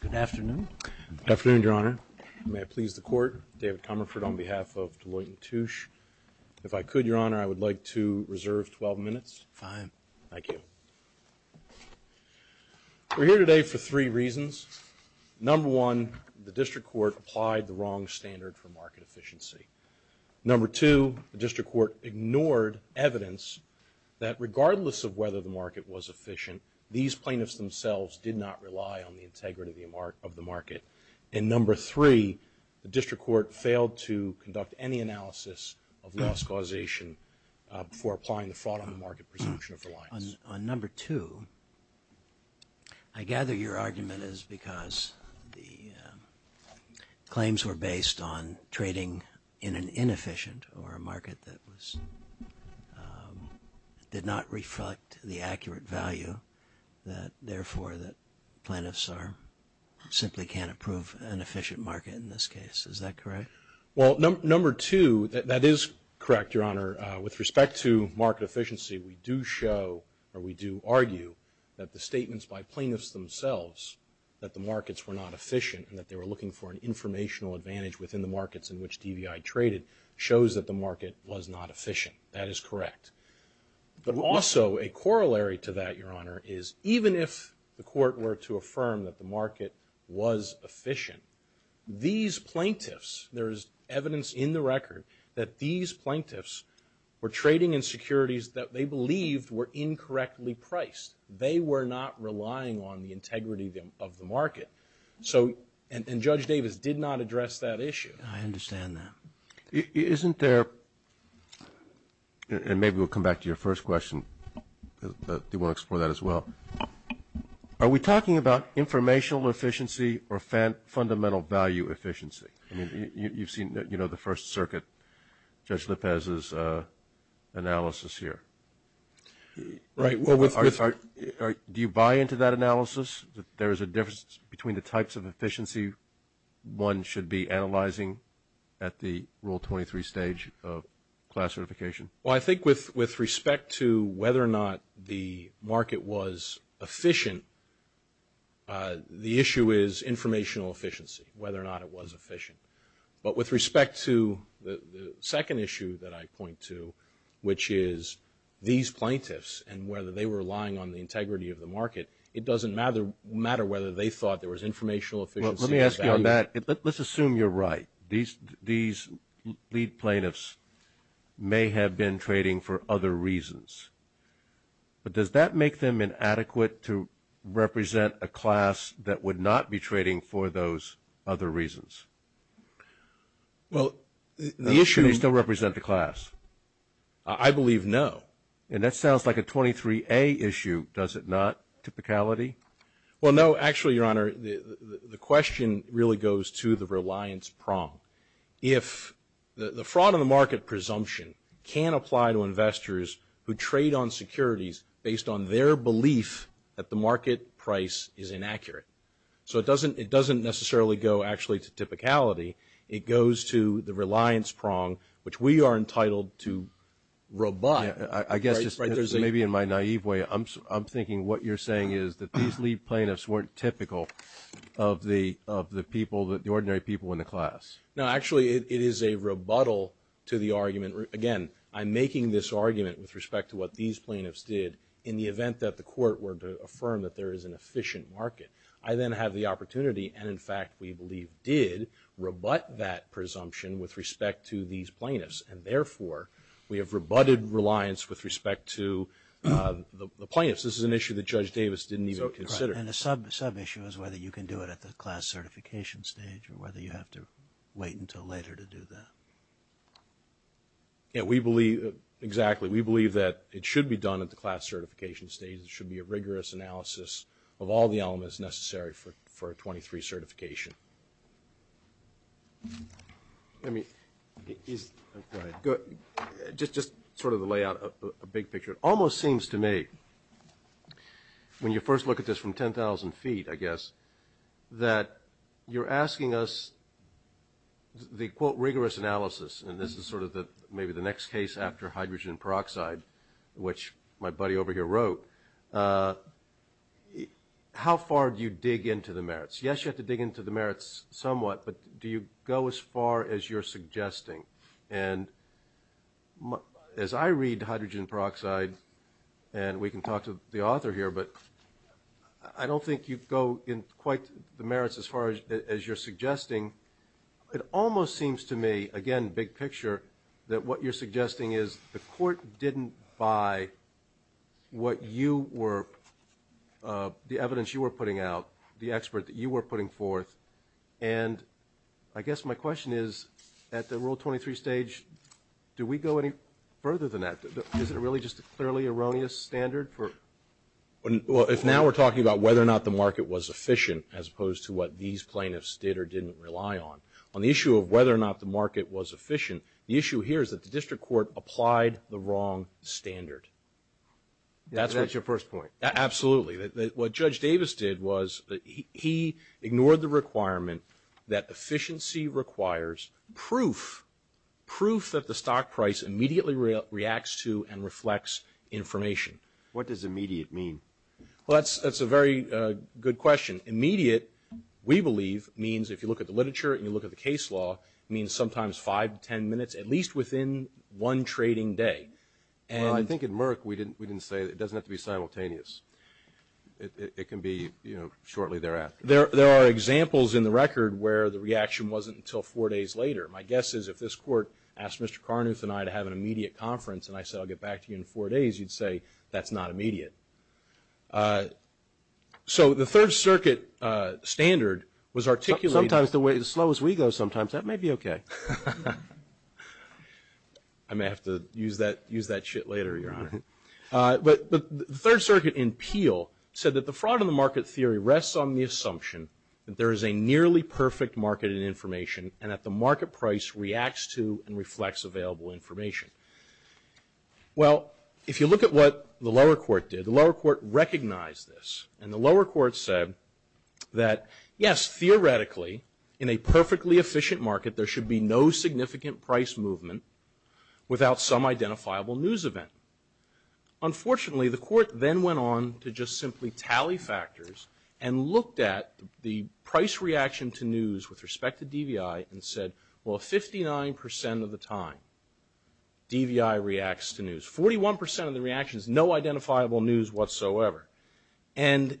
Good afternoon. Good afternoon, Your Honor. May I please the court? David Comerford on behalf of Deloitte and Touche. If I could, Your Honor, I would like to reserve 12 minutes. Fine. Thank you. We're here today for three reasons. Number one, the District Court applied the wrong standard for market efficiency. Number two, the District Court ignored evidence that regardless of whether the market was efficient, these plaintiffs themselves did not rely on the integrity of the market. And number three, the District Court failed to conduct any analysis of loss causation for applying the fraud on the market presumption of reliance. On number two, I gather your argument is because the claims were based on trading in an inefficient or a market that was, did not reflect the accurate value that therefore the plaintiffs are, simply can't approve an efficient market in this case. Is that correct? Well, number two, that is correct, Your Honor. With respect to market efficiency, we do show or we do argue that the statements by plaintiffs themselves that the markets were not efficient and that they were looking for an informational advantage within the markets in which DVI traded shows that the market was not efficient. That is correct. But also, a corollary to that, Your Honor, is even if the court were to affirm that the market was efficient, these plaintiffs, there is evidence in the record that these plaintiffs were trading in securities that they believed were incorrectly priced. They were not relying on the integrity of the market. So, and Judge Davis did not address that issue. I understand that. Isn't there, and maybe we'll come back to your first question, do you want to explore that as well? Are we talking about informational efficiency or fundamental value efficiency? I mean, you've seen, you know, the First Circuit, Judge Lopez's analysis here. Right. Do you buy into that analysis, that there is a difference between the types of efficiency one should be analyzing at the Rule 23 stage of class certification? Well, I think with respect to whether or not the market was efficient, the issue is informational efficiency, whether or not it was efficient. But with respect to the second issue that I point to, which is these plaintiffs and whether they were relying on the integrity of the market, it doesn't matter whether they thought there was informational efficiency and value. Let me ask you on that. Let's assume you're right. These lead plaintiffs may have been trading for other reasons. But does that make them inadequate to represent a class that would not be trading for those other reasons? Well, the issue... Do they still not? Typicality? Well, no. Actually, Your Honor, the question really goes to the reliance prong. If the fraud on the market presumption can apply to investors who trade on securities based on their belief that the market price is inaccurate. So it doesn't necessarily go actually to typicality. It goes to the reliance prong, which we are entitled to rebut. I guess just maybe in my naive way, I'm thinking what you're saying is that these lead plaintiffs weren't typical of the ordinary people in the class. No. Actually, it is a rebuttal to the argument. Again, I'm making this argument with respect to what these plaintiffs did in the event that the court were to affirm that there is an efficient market. I then have the opportunity and, in fact, we believe did rebut that presumption with respect to these plaintiffs and, therefore, we have rebutted reliance with respect to the plaintiffs. This is an issue that Judge Davis didn't even consider. And a sub-issue is whether you can do it at the class certification stage or whether you have to wait until later to do that. Yeah, we believe... Exactly. We believe that it should be done at the class certification stage. It should be a rigorous analysis of all the elements necessary for a 23 certification. Let me... Go ahead. Just sort of to lay out a big picture. It almost seems to me, when you first look at this from 10,000 feet, I guess, that you're asking us the, quote, rigorous analysis, and this is sort of maybe the next case after hydrogen peroxide, which my buddy over here wrote, how far do you dig into the merits? Yes, you have to dig into the merits somewhat, but do you go as far as you're suggesting? And as I read hydrogen peroxide, and we can talk to the author here, but I don't think you go in quite the merits as far as you're suggesting. It almost seems to me, again, big picture, that what you're doing by what you were, the evidence you were putting out, the expert that you were putting forth, and I guess my question is, at the Rule 23 stage, do we go any further than that? Is it really just a clearly erroneous standard for... Well, if now we're talking about whether or not the market was efficient as opposed to what these plaintiffs did or didn't rely on. On the issue of whether or not the market was efficient, the issue here is that the district court applied the wrong standard. That's your first point? Absolutely. What Judge Davis did was he ignored the requirement that efficiency requires proof, proof that the stock price immediately reacts to and reflects information. What does immediate mean? Well, that's a very good question. Immediate, we believe, means if you look at the literature and you look at the case law, it means sometimes five to ten minutes, at least within one trading day. Well, I think at Merck we didn't say it doesn't have to be simultaneous. It can be shortly thereafter. There are examples in the record where the reaction wasn't until four days later. My guess is if this court asked Mr. Carnuth and I to have an immediate conference and I said I'll get back to you in four days, you'd say that's not immediate. So the Third Circuit standard was articulated. Sometimes the way, as slow as we go sometimes, that may be okay. I may have to use that shit later, Your Honor. But the Third Circuit in Peel said that the fraud in the market theory rests on the assumption that there is a nearly perfect market in information and that the market price reacts to and reflects available information. Well, if you look at what the lower court did, the lower court recognized this and the lower court said that yes, theoretically, in a perfectly efficient market there should be no significant price movement without some identifiable news event. Unfortunately, the court then went on to just simply tally factors and looked at the price reaction to news with respect to DVI and said, well, 59% of the time DVI reacts to news. 41% of the reactions, no identifiable news whatsoever. And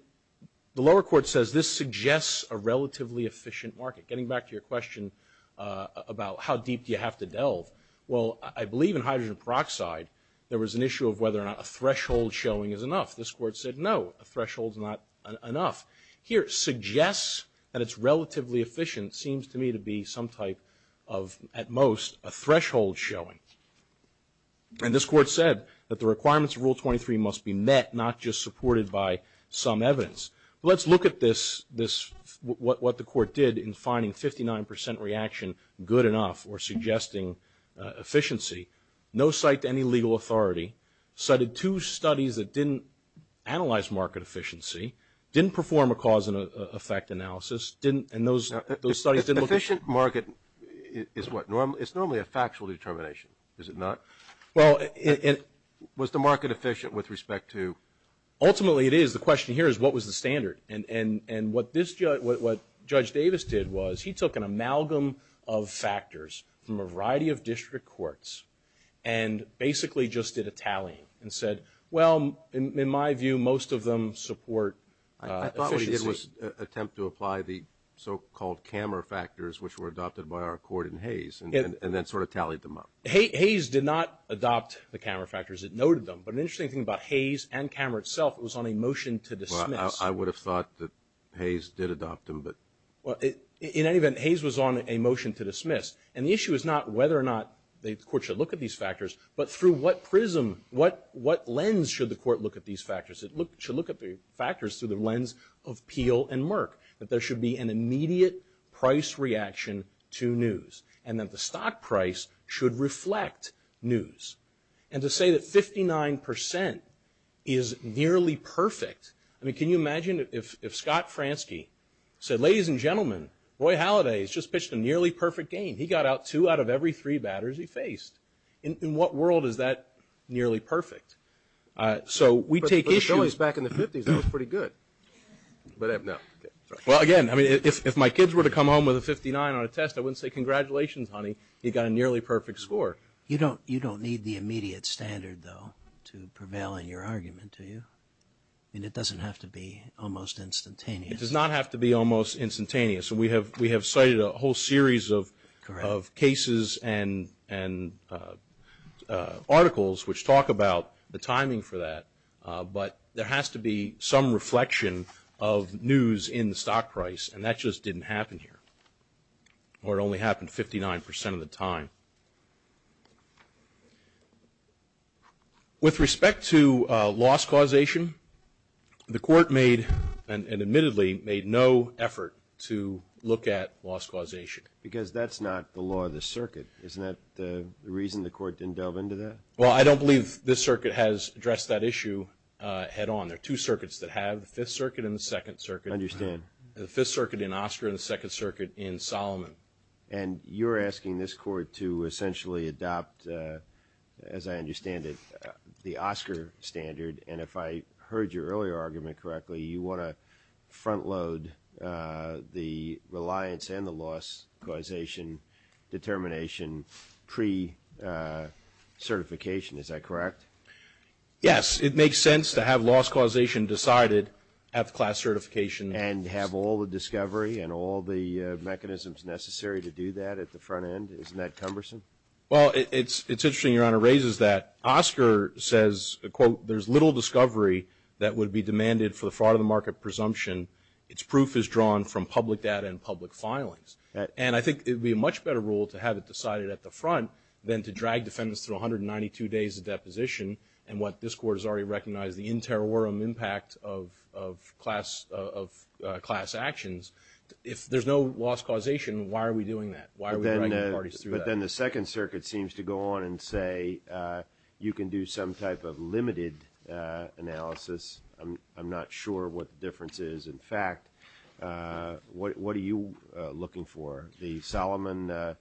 the lower court says this suggests a relatively efficient market. Getting back to your question about how deep do you have to delve, well, I believe in hydrogen peroxide there was an issue of whether or not a threshold showing is enough. This court said no, a threshold is not enough. Here, suggests that it's relatively efficient seems to me to be some type of, at most, a threshold showing. And this court said that the requirements of Rule 23 must be met, not just supported by some evidence. Let's look at this, what the court did in finding 59% reaction good enough or suggesting efficiency. No site to any legal authority, cited two studies that didn't analyze market efficiency, didn't perform a cause and effect analysis, didn't, and those studies didn't look efficient. Efficient market is what normally, it's normally a factual determination, is it not? Well, it, it. Was the market efficient with respect to? Ultimately it is. The question here is what was the standard? And, and, and what this judge, what Judge Davis did was he took an amalgam of factors from a variety of district courts and basically just did a tally and said, well, in my view, most of them support efficiency. I thought it was an attempt to apply the so-called camera factors which were adopted by our court in Hayes and then sort of tallied them up. Hayes did not adopt the camera factors, it noted them. But an interesting thing about Hayes and camera itself, it was on a motion to dismiss. Well, I would have thought that Hayes did adopt them, but. Well, it, in any event, Hayes was on a motion to dismiss. And the issue is not whether or not the court should look at these factors, but through what prism, what, what lens should the court look at these factors? It look, should look at the factors through the lens of Peel and Merck, that there should be an immediate price reaction to news, and that the stock price should reflect news. And to say that 59% is nearly perfect, I mean, can you imagine if, if Scott Fransky said, ladies and gentlemen, Roy Halladay has just pitched a nearly perfect game. He got out two out of every three batters he faced. In, in what world is that nearly perfect? So we But, but the Phillies back in the 50s, that was pretty good. But I, no. Well, again, I mean, if, if my kids were to come home with a 59 on a test, I wouldn't say congratulations, honey, you got a nearly perfect score. You don't, you don't need the immediate standard, though, to prevail in your argument, do you? I mean, it doesn't have to be almost instantaneous. It does not have to be almost instantaneous. We have, we have cited a whole series of, of cases and, and articles which talk about the timing for that. But there has to be some reflection of news in the stock price, and that just didn't happen here. Or it only happened 59% of the time. With respect to loss causation, the court made, and admittedly made no effort to look at loss causation. Because that's not the law of the circuit. Isn't that the reason the court didn't delve into that? Well, I don't believe this circuit has addressed that issue head on. There are two circuits that have, the Fifth Circuit and the Second Circuit. I understand. The Fifth Circuit in Oscar and the Second Circuit in Solomon. And you're asking this court to essentially adopt, as I understand it, the Oscar standard. And if I heard your earlier argument correctly, you want to front load the reliance and the loss causation determination pre-certification. Is that correct? Yes. It makes sense to have loss causation decided at the class certification. And have all the discovery and all the mechanisms necessary to do that at the front end? Isn't that cumbersome? Well, it's interesting Your Honor raises that. Oscar says, quote, there's little discovery that would be demanded for the fraud of the market presumption. Its proof is drawn from public data and public filings. And I think it would be a much better rule to have it decided at the front than to drag defendants through 192 days of deposition. And what this means is that if there's no loss causation, why are we doing that? Why are we dragging parties through that? But then the Second Circuit seems to go on and say you can do some type of limited analysis. I'm not sure what the difference is. In fact, what are you looking for? The Solomon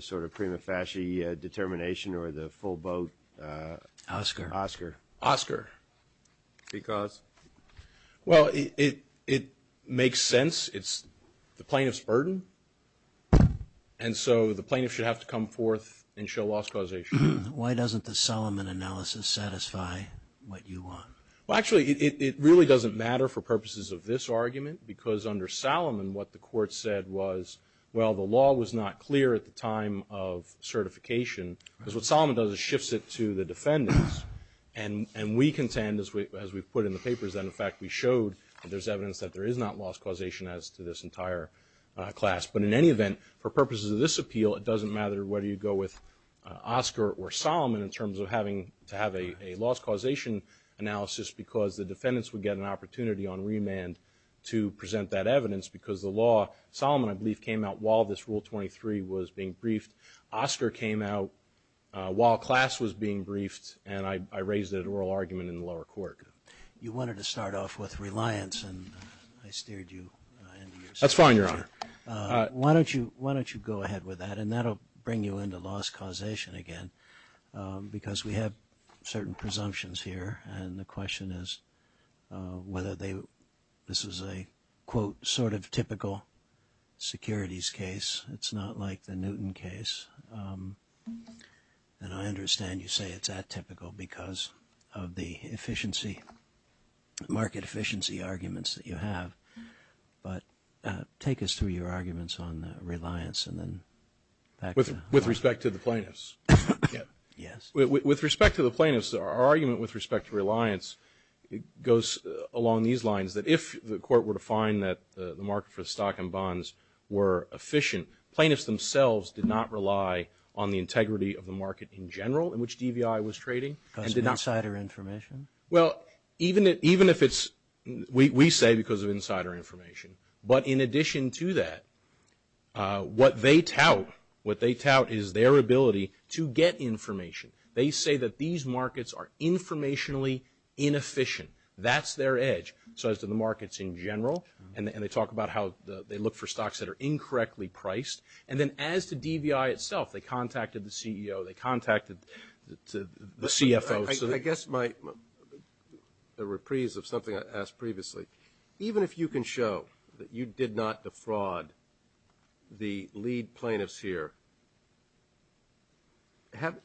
sort of prima facie determination or the full boat Oscar? Oscar. Because? Well, it makes sense. It's the plaintiff's burden. And so the plaintiff should have to come forth and show loss causation. Why doesn't the Solomon analysis satisfy what you want? Well, actually, it really doesn't matter for purposes of this argument because under Solomon what the court said was, well, the law was not clear at the time of certification. Because what Solomon does is shifts it to the defendants. And we contend, as we put in the papers, that in fact we showed that there's evidence that there is not loss causation as to this entire class. But in any event, for purposes of this appeal, it doesn't matter whether you go with Oscar or Solomon in terms of having to have a loss causation analysis because the defendants would get an opportunity on remand to present that evidence because the law, Solomon I believe came out while this Rule 23 was being briefed. Oscar came out while class was being briefed. And I raised it at oral argument in the lower court. You wanted to start off with reliance and I steered you into your seat there. That's fine, Your Honor. Why don't you go ahead with that? And that'll bring you into loss causation again because we have certain presumptions here. And the question is whether this is a, quote, sort of typical securities case. It's not like the Newton case. And I understand you say it's that typical because of the efficiency, market efficiency arguments that you have. But take us through your arguments on reliance and then back to... With respect to the plaintiffs. With respect to the plaintiffs, our argument with respect to reliance goes along these lines. We find that the market for stock and bonds were efficient. Plaintiffs themselves did not rely on the integrity of the market in general in which DVI was trading. Because of insider information? Well, even if it's, we say because of insider information. But in addition to that, what they tout, what they tout is their ability to get information. They say that these markets are informationally inefficient. That's their edge. So as to the markets in general. And they talk about how they look for stocks that are incorrectly priced. And then as to DVI itself, they contacted the CEO, they contacted the CFO. I guess my, a reprise of something I asked previously. Even if you can show that you did not defraud the lead plaintiffs here,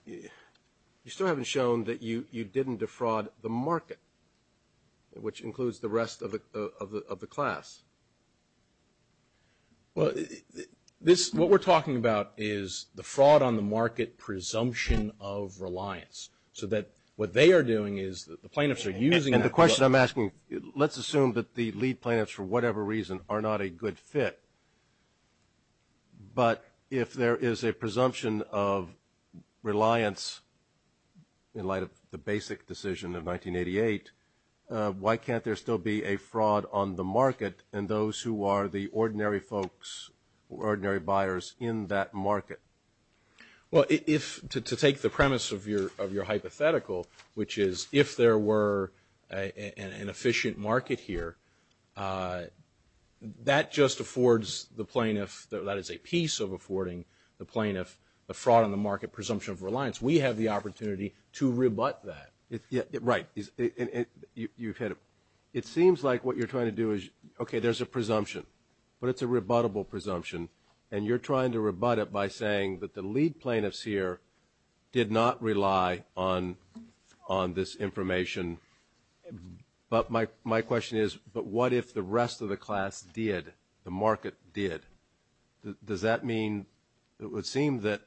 you still haven't shown that you, that you didn't defraud the market, which includes the rest of the class. Well, this, what we're talking about is the fraud on the market presumption of reliance. So that what they are doing is the plaintiffs are using that. And the question I'm asking, let's assume that the lead plaintiffs, for whatever reason, are not a good fit. But if there is a presumption of reliance in light of the bank statement, the basic decision of 1988, why can't there still be a fraud on the market in those who are the ordinary folks, ordinary buyers in that market? Well, if, to take the premise of your hypothetical, which is if there were an efficient market here, that just affords the plaintiff, that is a piece of affording the plaintiff a fraud on the market presumption of reliance. We have the opportunity to rebut that. Right. You've hit it. It seems like what you're trying to do is, okay, there's a presumption, but it's a rebuttable presumption. And you're trying to rebut it by saying that the lead plaintiffs here did not rely on this information. But my question is, but what if the rest of the class did, the market did, does that mean it would seem that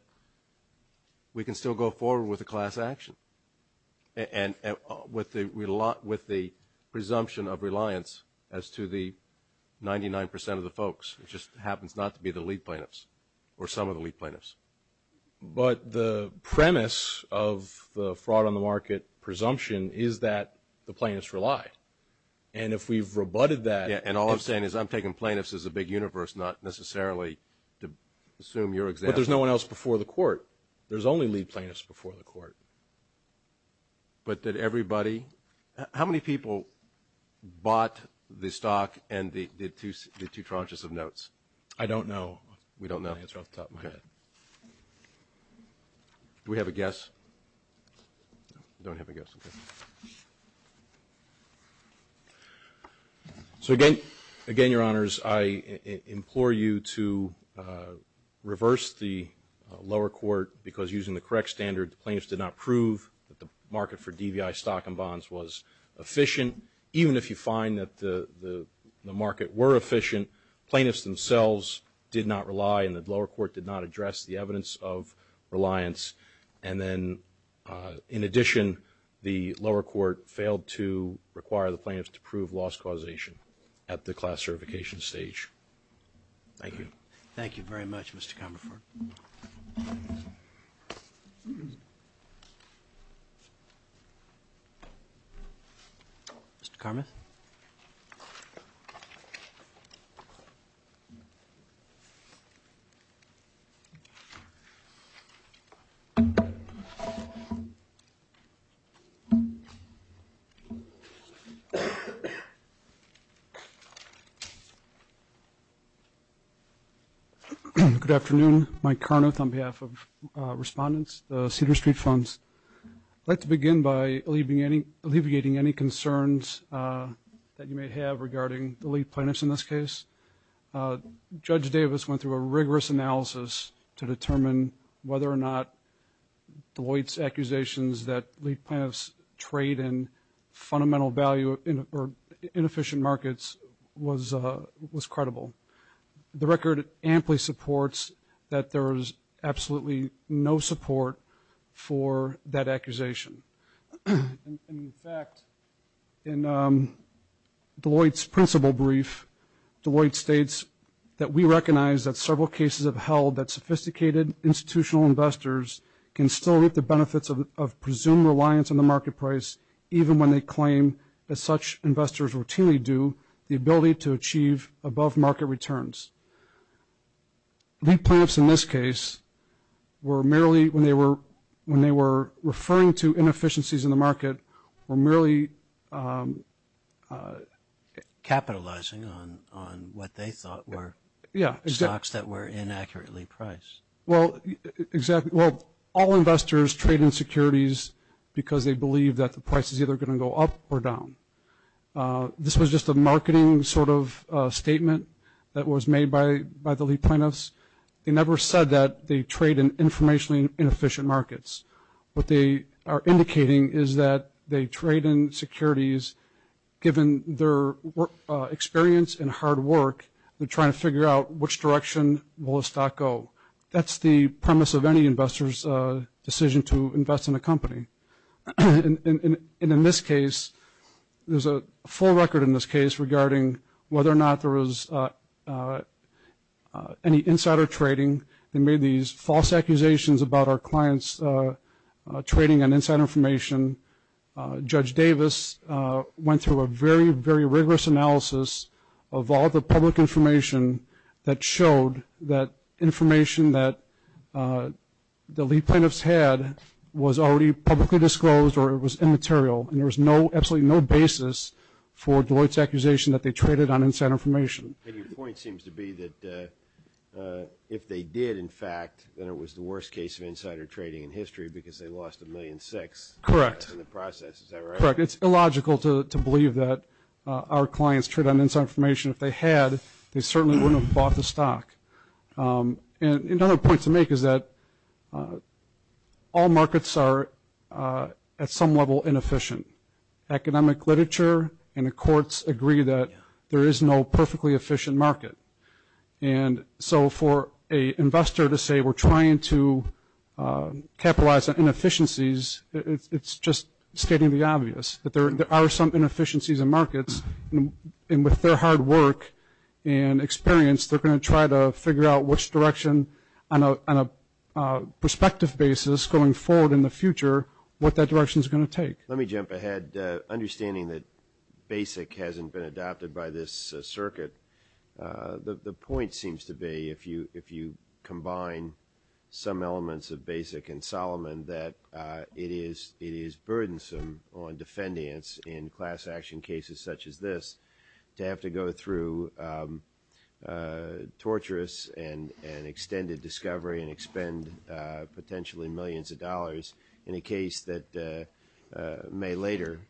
we can still go forward with a class action? And with the presumption of reliance as to the 99% of the folks, it just happens not to be the lead plaintiffs or some of the lead plaintiffs. But the premise of the fraud on the market presumption is that the plaintiffs relied. And if we've rebutted that- Yeah. And all I'm saying is I'm taking plaintiffs as a big universe, not necessarily to assume your example. But there's no one else before the court. There's only lead plaintiffs before the court. But did everybody, how many people bought the stock and did two tranches of notes? I don't know. We don't know. I think it's off the top of my head. Do we have a guess? No, we don't have a guess. Okay. So again, Your Honors, I implore you to reverse the lower court because using the correct standard, the plaintiffs did not prove that the market for DVI stock and bonds was efficient. Even if you find that the market were efficient, plaintiffs themselves did not rely and the court did not address the evidence of reliance. And then, in addition, the lower court failed to require the plaintiffs to prove loss causation at the class certification stage. Thank you. Thank you very much, Mr. Carmaford. Mr. Karmath? Good afternoon. Mike Karmath on behalf of Respondents, the Cedar Street Funds. I'd like to begin by alleviating any concerns that you may have regarding the lead plaintiffs in this case. Judge Davis went through a rigorous analysis to determine whether or not Deloitte's accusations that lead plaintiffs trade in fundamental value or inefficient markets was credible. The record amply supports that there is absolutely no support for that accusation. In fact, in Deloitte's principle brief, Deloitte states that we recognize that several cases have held that sophisticated institutional investors can still reap the benefits of presumed reliance on the market price even when they claim that such investors routinely do the ability to achieve above market returns. Lead plaintiffs in this case were merely, when they were referring to inefficiencies in the market, were merely... Capitalizing on what they thought were stocks that were inaccurately priced. Yeah, exactly. Well, all investors trade in securities because they believe that the price is either going to go up or down. This was just a marketing sort of statement that was made by the lead plaintiffs. They never said that they trade in informationally inefficient markets. What they are indicating is that they trade in securities, given their experience and hard work, they're trying to figure out which direction will the stock go. That's the premise of any investor's decision to invest in a company. And in this case, there's a full record in this case regarding whether or not there was any insider trading. They made these false accusations about our clients trading on insider information. Judge Davis went through a very, very rigorous analysis of all the public information that showed that information that the lead plaintiffs had was already publicly disclosed or it was immaterial, and there was absolutely no basis for Deloitte's accusation that they traded on insider information. And your point seems to be that if they did, in fact, that it was the worst case of insider trading in history because they lost a million six in the process. Correct. Is that right? Correct. It's illogical to believe that our clients trade on insider information. If they had, they certainly wouldn't have bought the stock. And another point to make is that all markets are at some level inefficient. Economic literature and the courts agree that there is no perfectly efficient market. And so for an investor to say we're trying to capitalize on inefficiencies, it's just stating the obvious, that there are some inefficiencies in markets. And with their hard work and experience, they're going to try to figure out which direction on a perspective basis going forward in the future what that direction is going to take. Let me jump ahead. Understanding that BASIC hasn't been adopted by this circuit, the point seems to be if you combine some elements of BASIC and Solomon that it is burdensome on defendants in class action cases such as this to have to go through torturous and extended discovery and expend potentially millions of dollars in a case that may later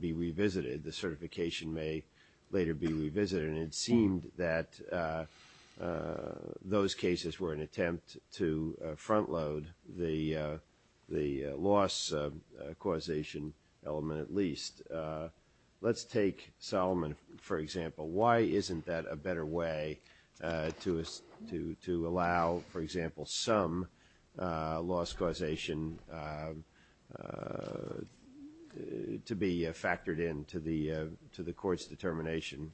be revisited. The certification may later be revisited. And it seemed that those cases were an attempt to front load the loss causation element at all. Let's take Solomon, for example. Why isn't that a better way to allow, for example, some loss causation to be factored in to the court's determination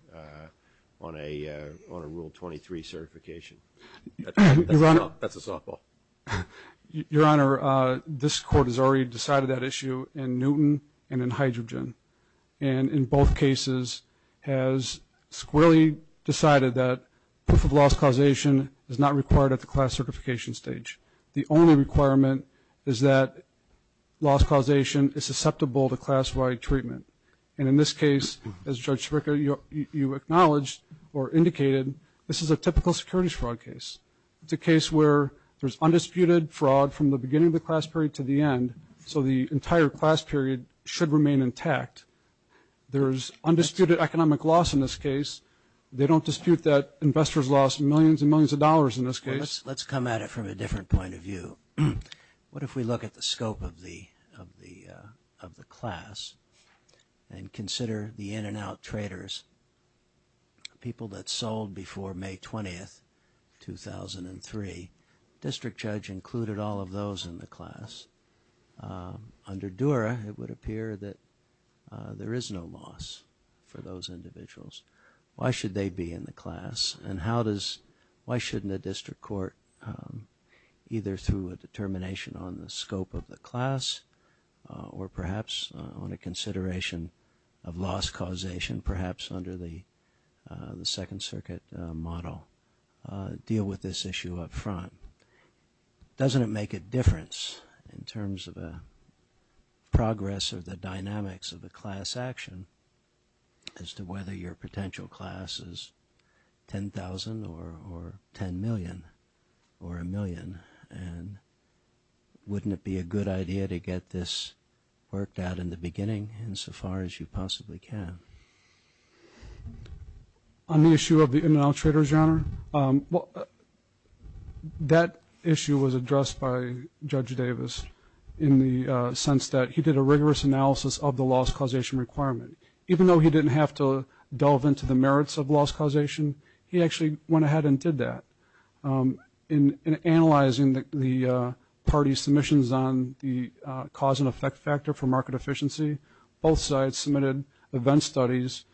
on a Rule 23 certification? That's a softball. Your Honor, this court has already decided that issue in Newton and in Hydrogen. And in both cases has squarely decided that proof of loss causation is not required at the class certification stage. The only requirement is that loss causation is susceptible to class wide treatment. And in this case, as Judge Spica, you acknowledged or indicated, this is a typical securities fraud case. It's a case where there's undisputed fraud from the beginning of the class period to the end. So the entire class period should remain intact. There's undisputed economic loss in this case. They don't dispute that investors lost millions and millions of dollars in this case. Let's come at it from a different point of view. What if we look at the scope of the class and consider the in and out traders? People that sold before May 20th, 2003. District Judge included all of those in the class. Under Dura, it would appear that there is no loss for those individuals. Why should they be in the class? And how does, why shouldn't a district court, either through a determination on the scope of the class, or perhaps on a consideration of loss causation, perhaps under the Second Circuit model, deal with this issue up front? Doesn't it make a difference in terms of a progress or the dynamics of the class action, as to whether your potential class is 10,000 or 10 million or a million? And wouldn't it be a good idea to get this worked out in the beginning insofar as you possibly can? On the issue of the in and out traders, Your Honor, that issue was addressed by Judge Davis in the sense that he did a rigorous analysis of the loss causation requirement. Even though he didn't have to delve into the merits of loss causation, he actually went ahead and did that. In analyzing the party's submissions on the cause and effect factor for market efficiency, both sides submitted event studies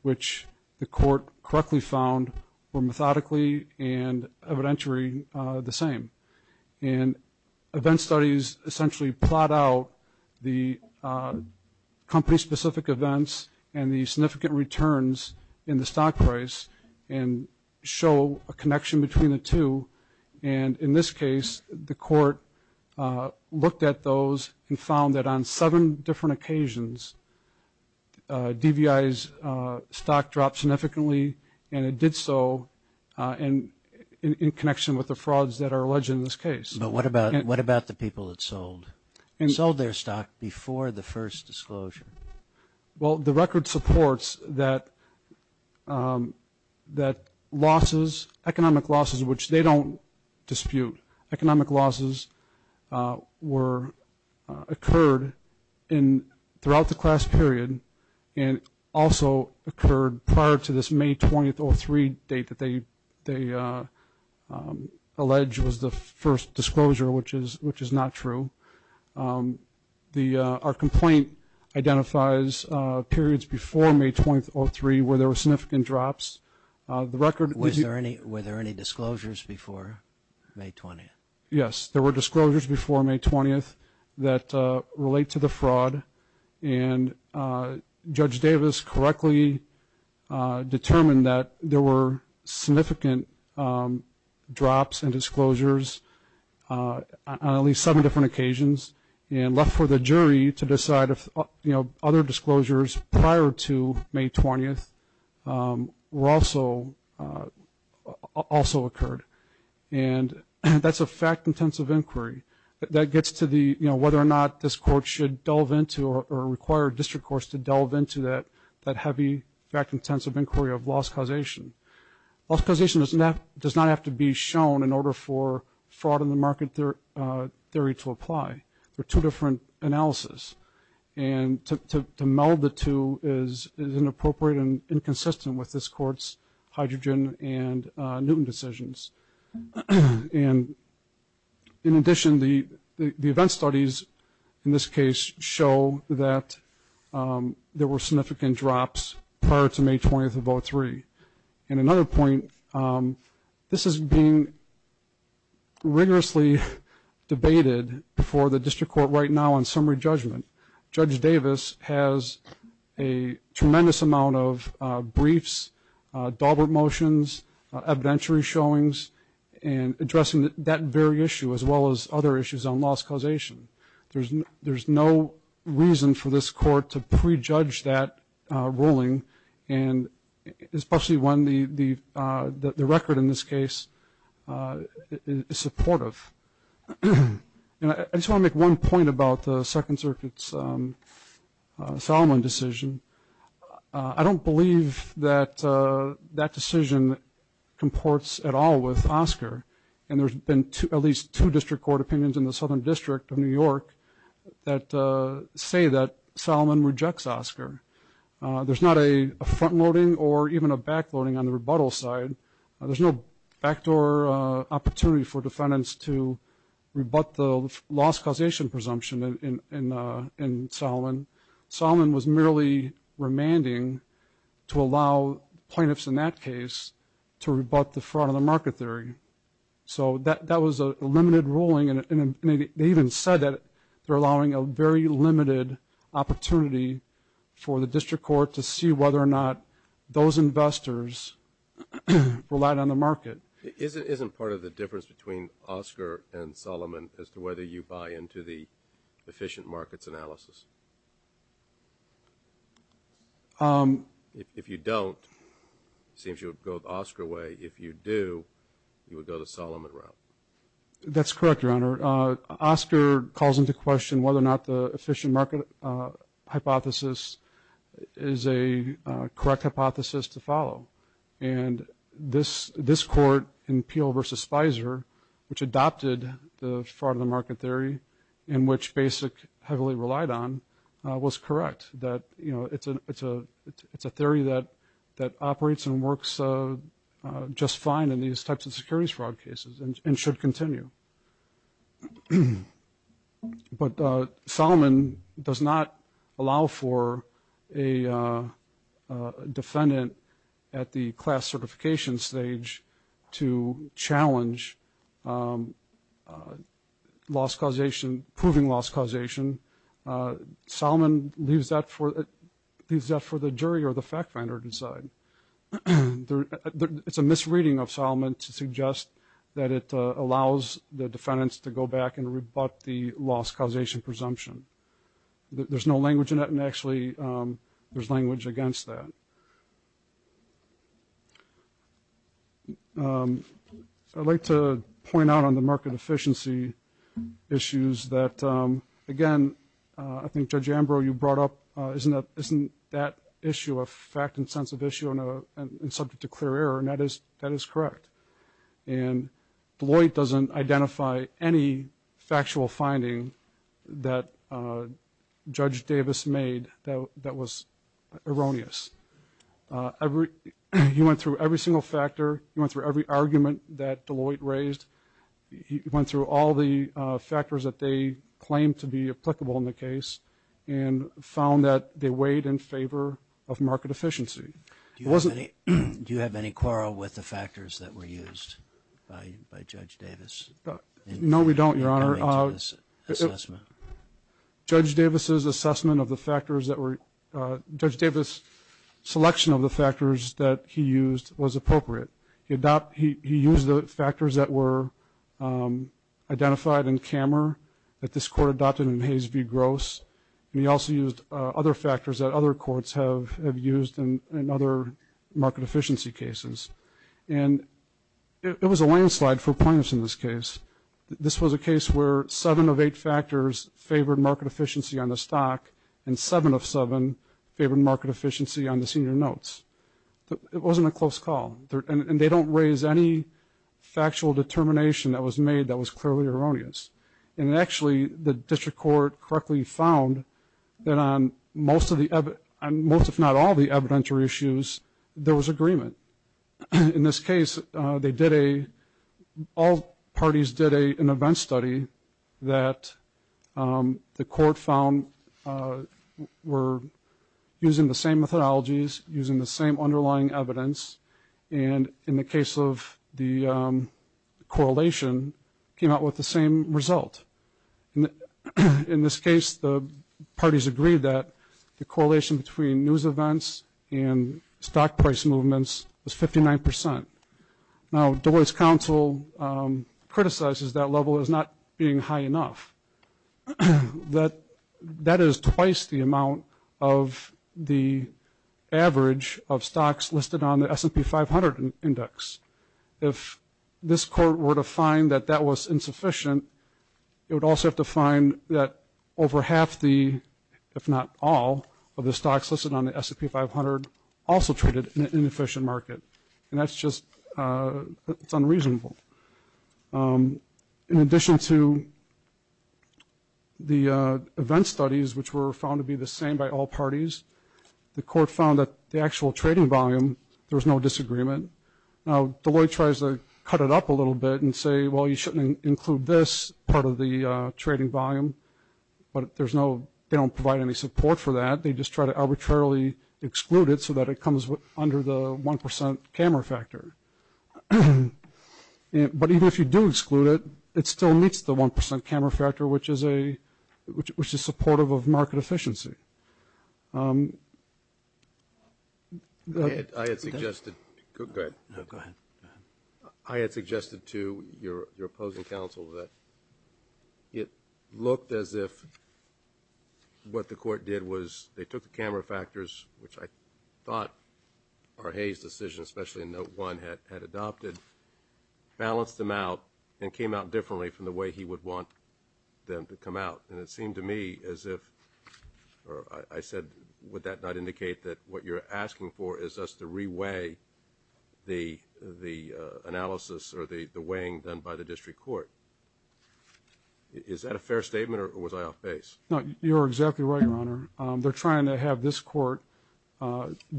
which the court correctly found were methodically and evidentiary the same. And event studies essentially plot out the company-specific events and the significant returns in the stock price and show a connection between the two. And in this case, the court looked at those and found that on seven different occasions, DVI's stock dropped significantly, and it did so in connection with the frauds that are alleged in this case. But what about the people that sold their stock before the first disclosure? Well, the record supports that economic losses, which they don't have, dispute. Economic losses occurred throughout the class period and also occurred prior to this May 20th, 2003 date that they allege was the first disclosure, which is not true. Our complaint identifies periods before May 20th, 2003 where there were significant drops. Were there any disclosures before May 20th? Yes, there were disclosures before May 20th that relate to the fraud, and Judge Davis correctly determined that there were significant drops in disclosures on at least seven different occasions and left for the jury to decide if other disclosures prior to May 20th also occurred. And that's a fact-intensive inquiry that gets to whether or not this court should delve into or require district courts to delve into that heavy fact-intensive inquiry of loss causation. Loss causation does not have to be shown in order for fraud in the market theory to apply. There are two different analysis, and to meld the two is inappropriate and inconsistent with this court's hydrogen and Newton decisions. In addition, the event studies in this case show that there were significant drops prior to May 20th of 2003. And another point, this is being rigorously debated before the jury. The district court right now on summary judgment, Judge Davis has a tremendous amount of briefs, Daubert motions, evidentiary showings, and addressing that very issue as well as other issues on loss causation. There's no reason for this court to prejudge that ruling, and especially when the record in this case is supportive. And I just want to make one point about the Second Circuit's Solomon decision. I don't believe that that decision comports at all with Oscar, and there's been at least two district court opinions in the Southern District of New York that say that Solomon rejects Oscar. There's not a front-loading or even a back-loading on the rebuttal side. There's no backdoor opportunity for defendants to rebut the loss causation presumption in Solomon. Solomon was merely remanding to allow plaintiffs in that case to rebut the fraud on the market theory. So that was a limited ruling, and they even said that they're allowing a very limited opportunity for the district court to see whether or not those investors relied on the market. Isn't part of the difference between Oscar and Solomon as to whether you buy into the efficient markets analysis? If you don't, it seems you would go the Oscar way. If you do, you would go the Solomon route. That's correct, Your Honor. Oscar calls into question whether or not the efficient market hypothesis, is a correct hypothesis to follow, and this court in Peel v. Spicer, which adopted the fraud on the market theory, in which Basic heavily relied on, was correct, that it's a theory that operates and works just fine in these types of securities fraud cases and should continue. But Solomon does not allow for a defendant at the class certification stage to challenge loss causation, proving loss causation. Solomon leaves that for the jury or the fact finder to decide. It's a misreading of Solomon to suggest that it allows the defendants to go back and rebut the loss causation presumption. There's no language in that, and actually there's language against that. I'd like to point out on the market efficiency issues that, again, I think Judge Ambrose, you brought up, isn't that issue a fact and sense of issue and subject to clear error, and that is correct. And Deloitte doesn't identify any factual finding that Judge Davis made that was erroneous. He went through every single factor, he went through every argument that Deloitte raised, he went through all the factors that they claimed to be applicable in the case, and found that they weighed in favor of market efficiency. Do you have any quarrel with the factors that were used by Judge Davis? No, we don't, Your Honor. Judge Davis' selection of the factors that he used was appropriate. He used the factors that were identified in Kammer, that this Court adopted in Hayes v. Gross, and he also used other factors that other courts have used in other market efficiency cases. And it was a landslide for plaintiffs in this case. This was a case where seven of eight factors favored market efficiency on the stock, and seven of seven favored market efficiency on the senior notes. It wasn't a close call, and they don't raise any factual determination that was made that was clearly erroneous. And actually, the District Court correctly found that on most, if not all, the evidentiary issues, there was agreement. In this case, all parties did an event study that the Court found were using the same methodologies, using the same underlying evidence, and in the case of the correlation, came out with the same result. In this case, the parties agreed that the correlation between news events and stock price movements was 59%. Now, Deloitte's counsel criticizes that level as not being high enough. That is twice the amount of the average of stocks listed on the S&P 500 index. If this Court were to find that that was insufficient, it would also have to find that over half the, if not all, of the stocks listed on the S&P 500 also traded in an inefficient market. And that's just, it's unreasonable. In addition to the event studies, which were found to be the same by all parties, the Court found that the actual trading volume, there was no disagreement. Now, Deloitte tries to cut it up a little bit and say, well, you shouldn't include this part of the trading volume, but there's no, they don't provide any support for that, they just try to arbitrarily exclude it so that it comes under the 1% camera factor. But even if you do exclude it, it still meets the 1% camera factor, which is supportive of market efficiency. I had suggested to your opposing counsel that it looked as if what the Court did was, they took the camera factors, which I thought Arhay's decision, especially in note one, had adopted, balanced them out, and came out differently from the way he would want them to come out. And it seemed to me as if, or I said, would that not indicate that what you're asking for is us to re-weigh the analysis or the weighing done by the District Court. Is that a fair statement, or was I off base? No, you're exactly right, Your Honor. They're trying to have this Court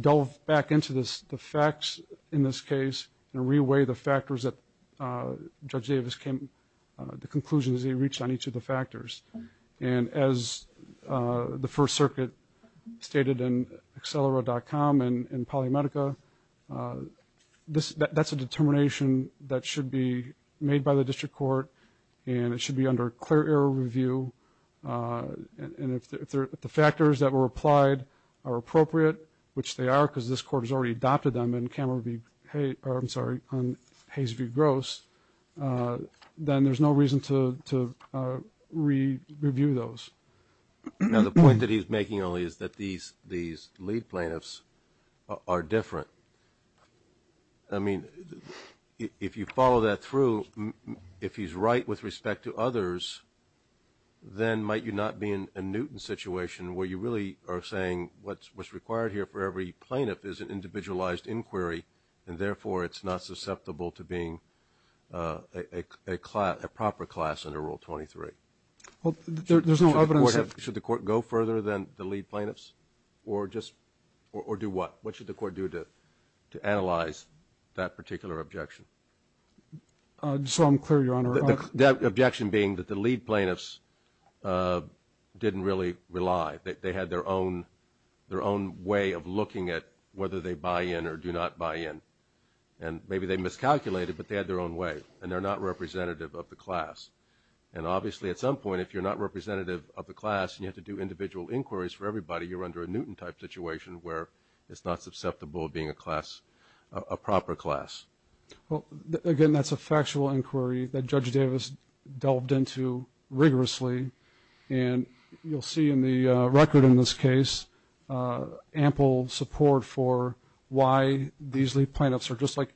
delve back into the facts in this case and re-weigh the factors that Judge Davis came, and as the First Circuit stated in Accelero.com and Polymedica, that's a determination that should be made by the District Court, and it should be under clear error review, and if the factors that were applied are appropriate, which they are, because this Court has already adopted them on Hayes v. Gross, then there's no reason to re-review those. Now, the point that he's making only is that these lead plaintiffs are different. I mean, if you follow that through, if he's right with respect to others, then might you not be in a Newton situation where you really are saying, what's required here for every plaintiff is an individualized inquiry, a proper class under Rule 23? Should the Court go further than the lead plaintiffs, or do what? What should the Court do to analyze that particular objection? So I'm clear, Your Honor. The objection being that the lead plaintiffs didn't really rely. They had their own way of looking at whether they buy in or do not buy in, and maybe they miscalculated, but they had their own way, and they're not representative of the class, and obviously at some point, if you're not representative of the class and you have to do individual inquiries for everybody, you're under a Newton-type situation where it's not susceptible to being a class, a proper class. Well, again, that's a factual inquiry that Judge Davis delved into rigorously, and you'll see in the record in this case ample support for why these lead plaintiffs are just like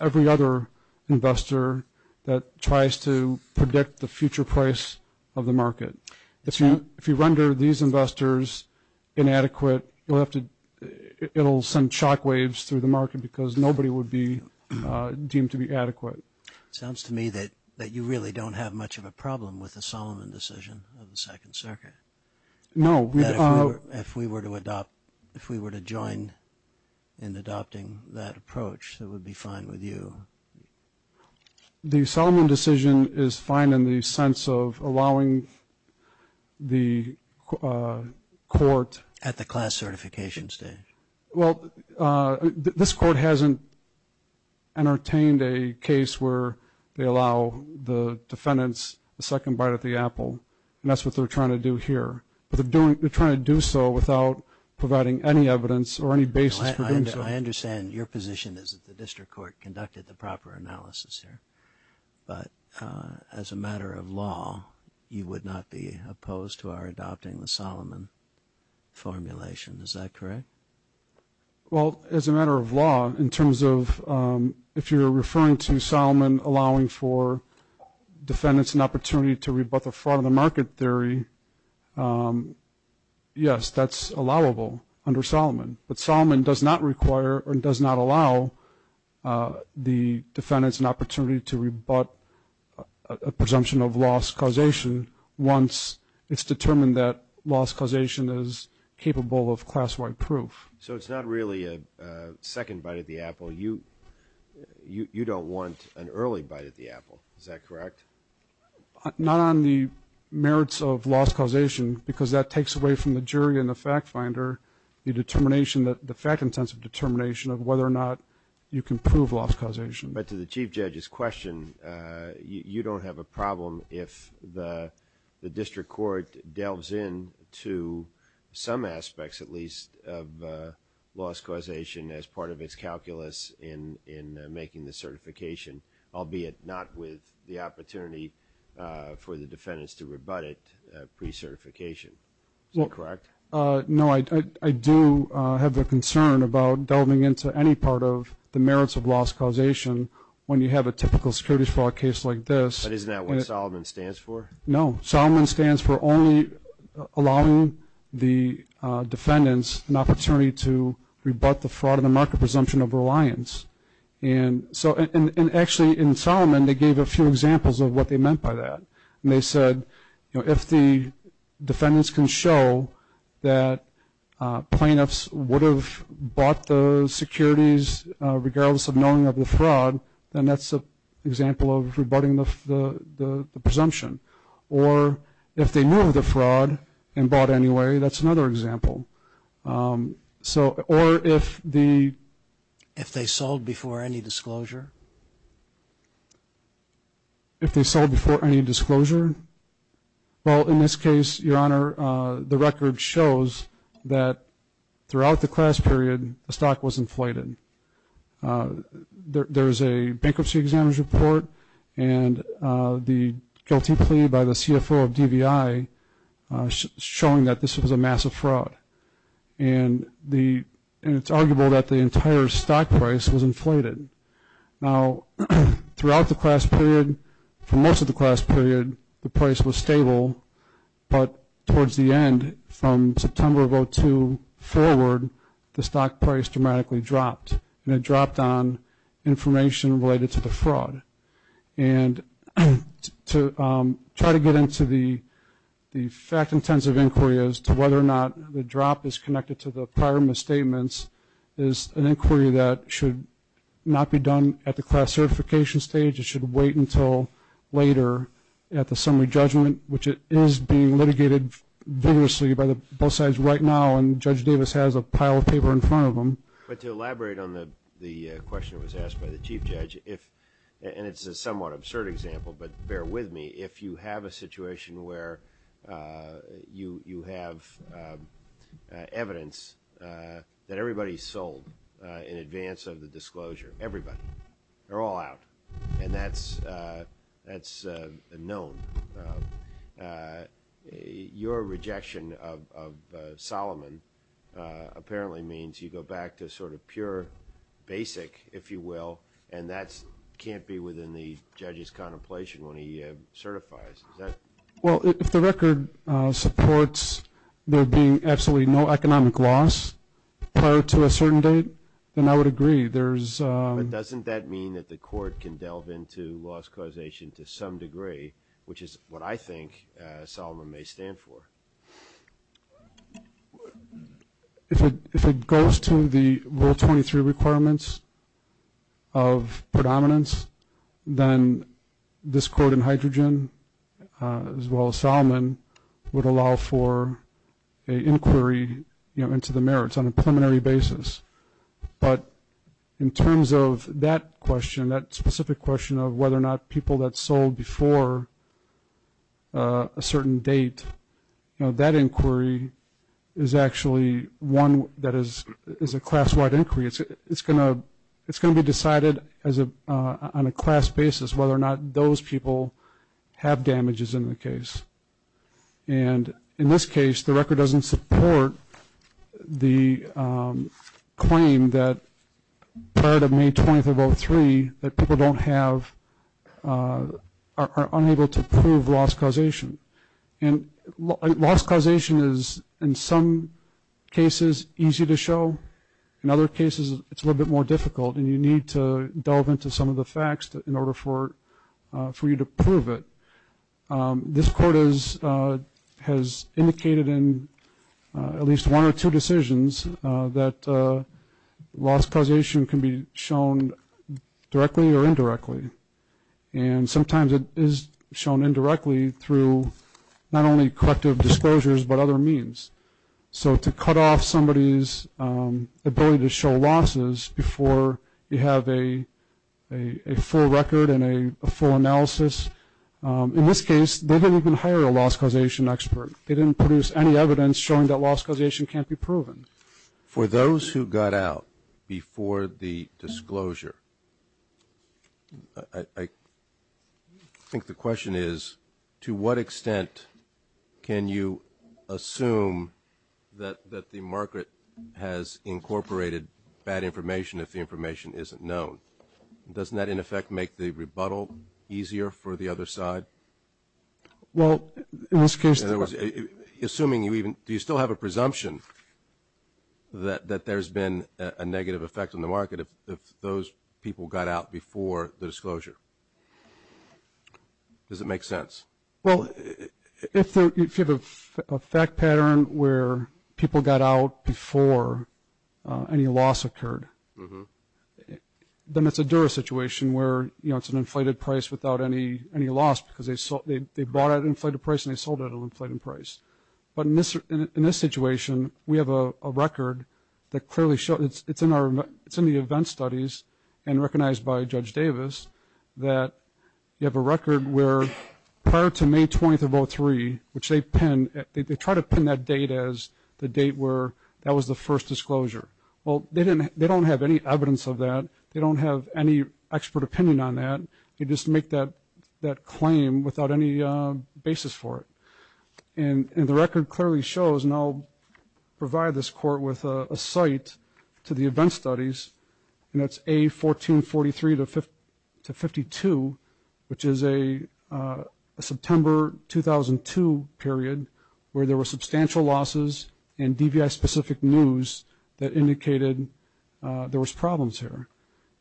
every other investor that tries to predict the future price of the market. If you render these investors inadequate, it'll send shockwaves through the market because nobody would be deemed to be adequate. It sounds to me that you really don't have much of a problem with the Solomon decision of the Second Circuit. If we were to join in adopting that approach, it would be fine with you. The Solomon decision is fine in the sense of allowing the court... At the class certification stage. Well, this court hasn't entertained a case where they allow the defendants a second bite at the apple, and that's what they're trying to do here, but they're trying to do so without providing any evidence or any basis for doing so. I understand your position is that the district court conducted the proper analysis here, but as a matter of law, you would not be opposed to our adopting the Solomon formulation. Is that correct? Well, as a matter of law, in terms of if you're referring to Solomon allowing for defendants an opportunity to rebut the fraud of the market theory, yes, that's allowable under Solomon, but Solomon does not require or does not allow the defendants an opportunity to rebut a presumption of loss causation once it's determined that loss causation is capable of class-wide proof. So it's not really a second bite at the apple. You don't want an early bite at the apple, is that correct? Not on the merits of loss causation, because that takes away from the jury and the fact finder the fact-intensive determination of whether or not you can prove loss causation. But to the Chief Judge's question, you don't have a problem if the district court delves in to some aspects, at least, of loss causation as part of its calculus in making the certification, albeit not with the opportunity for the defendants to rebut it pre-certification. Is that correct? No, I do have a concern about delving into any part of the merits of loss causation when you have a typical security fraud case like this. But isn't that what Solomon stands for? No, Solomon stands for only allowing the defendants an opportunity to rebut the fraud of the market presumption of reliance. And actually in Solomon they gave a few examples of what they meant by that. And they said if the defendants can show that plaintiffs would have bought the securities regardless of knowing of the fraud, then that's an example of rebutting the presumption. Or if they knew of the fraud and bought anyway, that's another example. So, or if the... If they sold before any disclosure? If they sold before any disclosure? Well, in this case, Your Honor, the record shows that throughout the class period the stock was inflated. There's a bankruptcy examiner's report and the guilty plea by the CFO of DVI showing that this was a massive fraud. And it's arguable that the entire stock price was inflated. Now, throughout the class period, for most of the class period, the price was stable. But towards the end, from September of 2002 forward, the stock price dramatically dropped. And it dropped on information related to the fraud. And to try to get into the fact-intensive inquiries as to whether or not the drop in the stock price is connected to the prior misstatements is an inquiry that should not be done at the class certification stage. It should wait until later at the summary judgment, which is being litigated vigorously by both sides right now. And Judge Davis has a pile of paper in front of him. But to elaborate on the question that was asked by the Chief Judge, and it's a somewhat absurd example, but bear with me. If you have a situation where you have evidence that everybody's sold in advance of the disclosure, everybody, they're all out. And that's known. Your rejection of Solomon apparently means you go back to sort of pure basic, if you will, and that can't be within the judge's contemplation when he certifies. Well, if the record supports there being absolutely no economic loss prior to a certain date, then I would agree. But doesn't that mean that the court can delve into loss causation to some degree, which is what I think Solomon may stand for? If it goes to the Rule 23 requirements of predominance, then this court in hydrogen, as well as Solomon, would allow for an inquiry into the merits on a preliminary basis. But in terms of that question, that specific question of whether or not people that sold before a certain date, you know, that inquiry is actually one that is a class-wide inquiry. It's going to be decided on a class basis whether or not those people have damages in the case. And in this case, the record doesn't support the claim that prior to May 20th of 2003, that people are unable to prove loss causation. And loss causation is, in some cases, easy to show. In other cases, it's a little bit more difficult, and you need to delve into some of the facts in order for you to prove it. This court has indicated in at least one or two decisions that loss causation can be shown directly or indirectly. And sometimes it is shown indirectly through not only corrective disclosures, but other means. So to cut off somebody's ability to show losses before you have a full record and a full analysis, in this case, they didn't even hire a loss causation expert. They didn't produce any evidence showing that loss causation can't be proven. I think the question is, to what extent can you assume that the market has incorporated bad information if the information isn't known? Doesn't that, in effect, make the rebuttal easier for the other side? Well, in this case... Assuming you even, do you still have a presumption that there's been a negative effect on the market if those people got out before the disclosure? Does it make sense? Well, if you have a fact pattern where people got out before any loss occurred, then it's a Dura situation where, you know, it's an inflated price without any loss, because they bought at an inflated price and they sold at an inflated price. But in this situation, we have a record that clearly shows, it's in the event studies and recognized by Judge Davis, that you have a record where prior to May 20th of 2003, which they pin, they try to pin that date as the date where that was the first disclosure. Well, they don't have any evidence of that, they don't have any expert opinion on that. They just make that claim without any basis for it. And the record clearly shows, and I'll provide this court with a site to the event studies, and that's A1443-52, which is a September 2002 period where there were substantial losses and DVI-specific news that indicated there was problems here.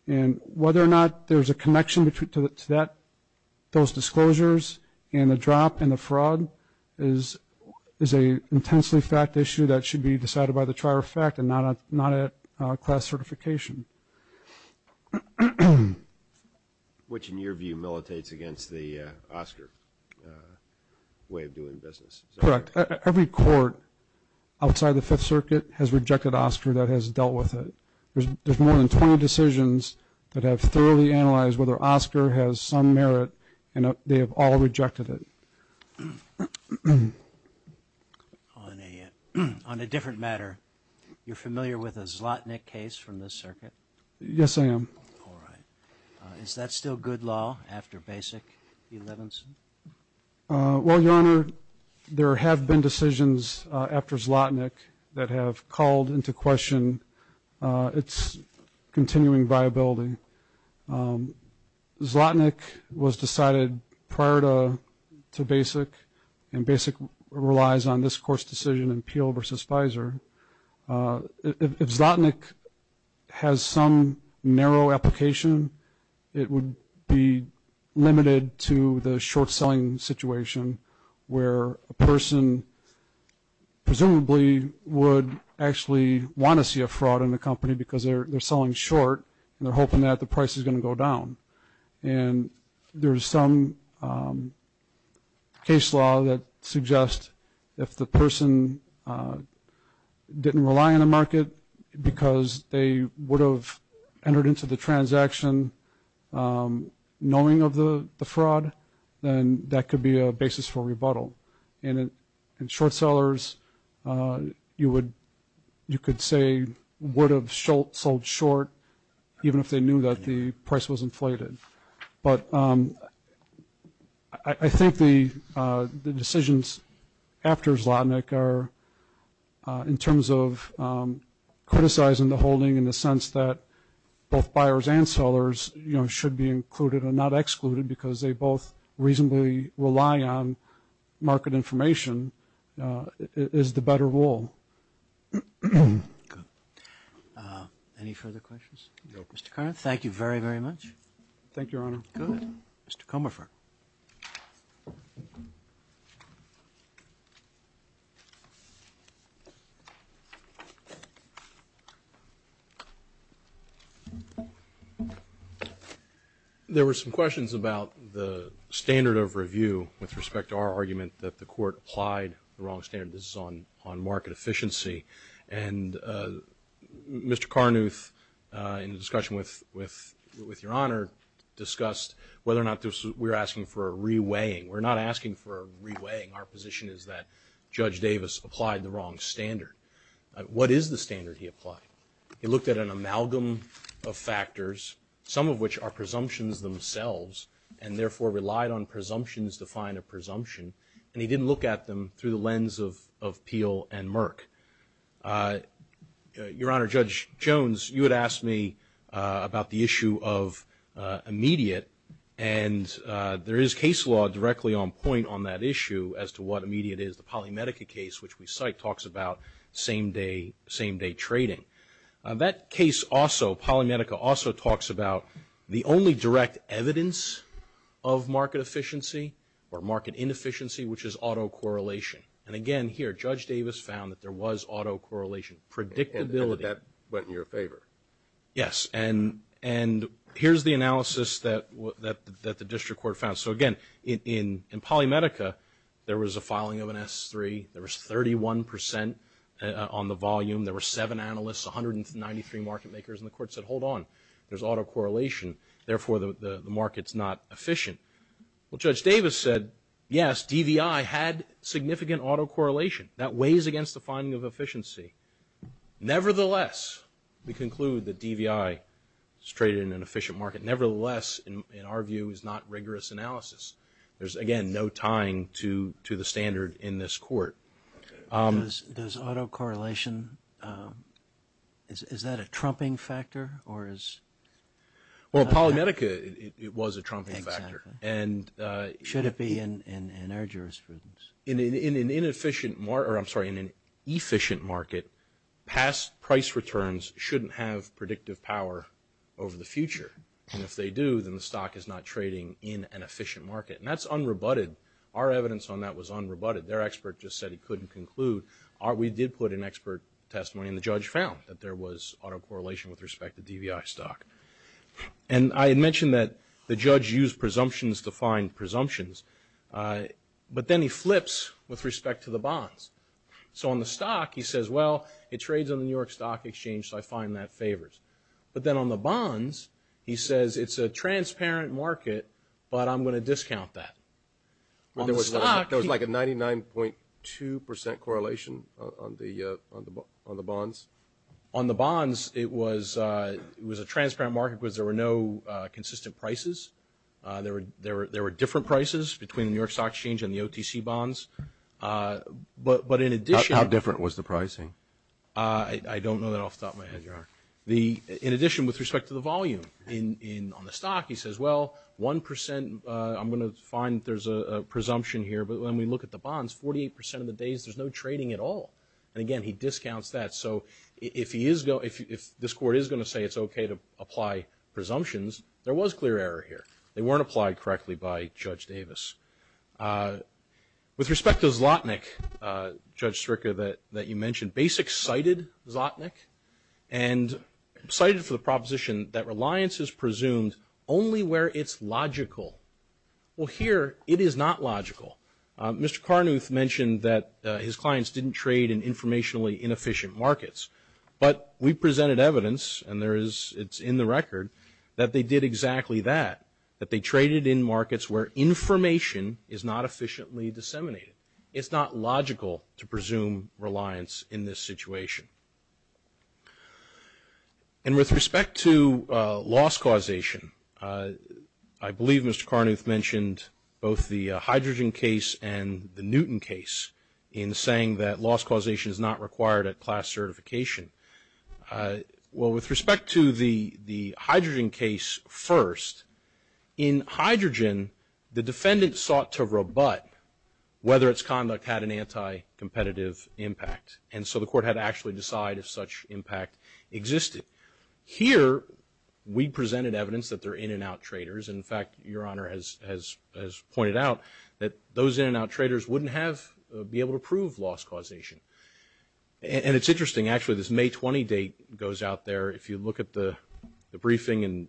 And whether or not there's a connection to those disclosures and the drop and the fraud is an intensely fact issue that should be decided by the trier of fact and not at class certification. Which, in your view, militates against the Oscar way of doing business. Correct. Every court outside the Fifth Circuit has rejected Oscar that has dealt with it. There's more than 20 decisions that have thoroughly analyzed whether Oscar has some merit and they have all rejected it. On a different matter, you're familiar with a Zlotnick case from the circuit? Yes, I am. All right. Is that still good law after Basic v. Levinson? Well, Your Honor, there have been decisions after Zlotnick that have called into question its continuing viability. Zlotnick was decided prior to Basic, and Basic relies on this court's decision in Peel v. Fizer. If Zlotnick has some narrow application, it would be limited to the short term short selling situation where a person presumably would actually want to see a fraud in the company because they're selling short and they're hoping that the price is going to go down. And there's some case law that suggests if the person didn't rely on the market because they would have entered into the transaction knowing of the fraud, then that could be a basis for rebuttal. And in short sellers, you could say would have sold short even if they knew that the price was inflated. But I think the decisions after Zlotnick are in terms of criticizing the holding in the sense that both buyers and sellers should be included and not excluded because they both reasonably rely on market information is the better rule. Good. Any further questions? Thank you, Your Honor. Good. Mr. Comerford. There were some questions about the standard of review with respect to our argument that the court applied the wrong standard. This is on market efficiency. And Mr. Carnuth in discussion with Your Honor discussed whether or not we're asking for a re-weighing. We're not asking for a re-weighing. Our position is that Judge Davis applied the wrong standard. What is the standard he applied? He looked at an amalgam of factors, some of which are presumptions themselves, and therefore relied on presumptions to find a presumption. And he didn't look at them through the lens of Peel and Merck. Your Honor, Judge Jones, you had asked me about the issue of immediate. And there is case law directly on point on that issue as to what immediate is. The Polymedica case, which we cite, talks about same-day trading. That case also, Polymedica, also talks about the only direct evidence of market efficiency or market inefficiency, which is autocorrelation. And again, here, Judge Davis found that there was autocorrelation. And that went in your favor. Yes. And here's the analysis that the district court found. So again, in Polymedica, there was a filing of an S3. There was 31 percent on the volume. There were seven analysts, 193 market makers. And the court said, hold on, there's autocorrelation. Therefore, the market's not efficient. Well, Judge Davis said, yes, DVI had significant autocorrelation. That weighs against the finding of efficiency. Nevertheless, we conclude that DVI is traded in an efficient market. Nevertheless, in our view, is not rigorous analysis. There's, again, no tying to the standard in this court. Does autocorrelation, is that a trumping factor? Well, Polymedica, it was a trumping factor. Should it be in our jurisprudence? In an efficient market, past price returns shouldn't have predictive power over the future. And if they do, then the stock is not trading in an efficient market. And that's unrebutted. Our evidence on that was unrebutted. Their expert just said he couldn't conclude. We did put an expert testimony, and the judge found that there was autocorrelation with respect to DVI stock. And I had mentioned that the judge used presumptions to find presumptions. But then he flips with respect to the bonds. So on the stock, he says, well, it trades on the New York Stock Exchange, so I find that favors. But then on the bonds, he says, it's a transparent market, but I'm going to discount that. There was like a 99.2% correlation on the bonds? On the bonds, it was a transparent market because there were no consistent prices. There were different prices between the New York Stock Exchange and the OTC bonds. But in addition- How different was the pricing? I don't know that off the top of my head, Your Honor. In addition, with respect to the volume on the stock, he says, well, 1%, I'm going to find there's a presumption here. But when we look at the bonds, 48% of the days, there's no trading at all. And again, he discounts that. So if this Court is going to say it's okay to apply presumptions, there was clear error here. They weren't applied correctly by Judge Davis. With respect to Zlotnick, Judge Stricker, that you mentioned, Basic cited Zlotnick, and cited for the proposition that reliance is presumed only where it's logical. Well, here, it is not logical. Mr. Carnuth mentioned that his clients didn't trade in informationally inefficient markets. But we presented evidence, and it's in the record, that they did exactly that, that they traded in markets where information is not efficiently disseminated. It's not logical to presume reliance in this situation. And with respect to loss causation, I believe Mr. Carnuth mentioned both the hydrogen case and the Newton case in saying that loss causation is not required at class certification. Well, with respect to the hydrogen case first, in hydrogen, the defendant sought to rebut whether its conduct had an anti-competitive impact. And so the Court had to actually decide if such impact existed. Here, we presented evidence that they're in-and-out traders. In fact, Your Honor has pointed out that those in-and-out traders wouldn't be able to prove loss causation. And it's interesting, actually, this May 20 date goes out there. If you look at the briefing,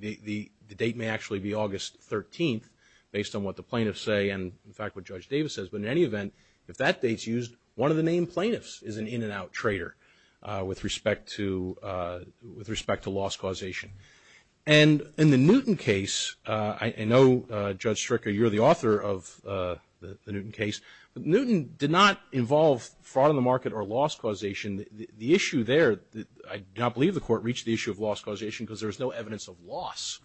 the date may actually be August 13th, based on what the plaintiffs say and, in fact, what Judge Davis says. But in any event, if that date's used, one of the main plaintiffs is an in-and-out trader with respect to loss causation. And in the Newton case, I know, Judge Stricker, you're the author of the Newton case, but Newton did not involve fraud in the market or loss causation. The issue there, I do not believe the Court reached the issue of loss causation because there was no evidence of loss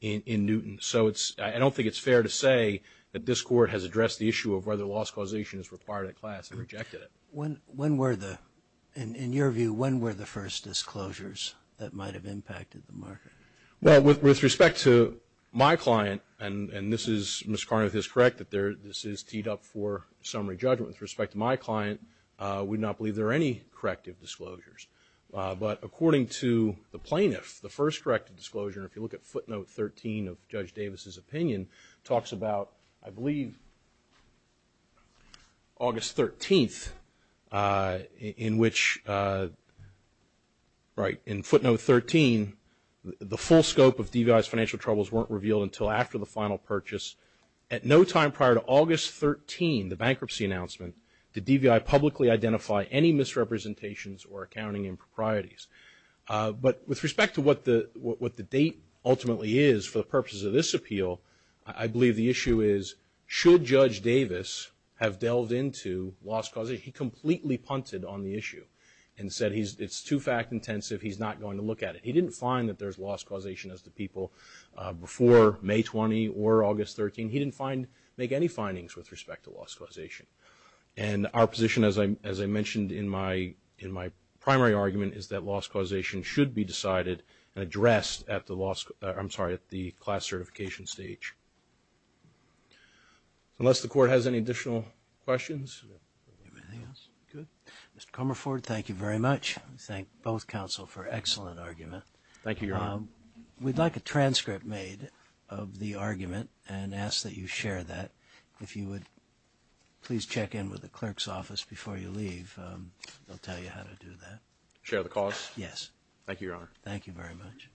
in Newton. So I don't think it's fair to say that this Court has addressed the issue of whether loss causation is required at class and rejected it. When were the – in your view, when were the first disclosures that might have impacted the market? Well, with respect to my client, and this is – Ms. Carnuth is correct that this is teed up for summary judgment. With respect to my client, we do not believe there are any corrective disclosures. But according to the plaintiff, the first corrective disclosure, if you look at footnote 13 of Judge Davis's opinion, talks about, I believe, August 13th, in which, right, in footnote 13, the full scope of DVI's financial troubles weren't revealed until after the final purchase. At no time prior to August 13, the bankruptcy announcement, did DVI publicly identify any misrepresentations or accounting improprieties. But with respect to what the date ultimately is for the purposes of this appeal, I believe the issue is, should Judge Davis have delved into loss causation? He completely punted on the issue and said it's too fact intensive, he's not going to look at it. He didn't find that there's loss causation as to people before May 20 or August 13. He didn't find – make any findings with respect to loss causation. And our position, as I mentioned in my primary argument, is that loss causation should be decided and addressed at the loss – I'm sorry, at the class certification stage. Mr. Comerford, thank you very much. We'd like a transcript made of the argument and ask that you share that. And if you would please check in with the clerk's office before you leave, they'll tell you how to do that. Share the cause? Yes. Thank you, Your Honor. Thank you very much.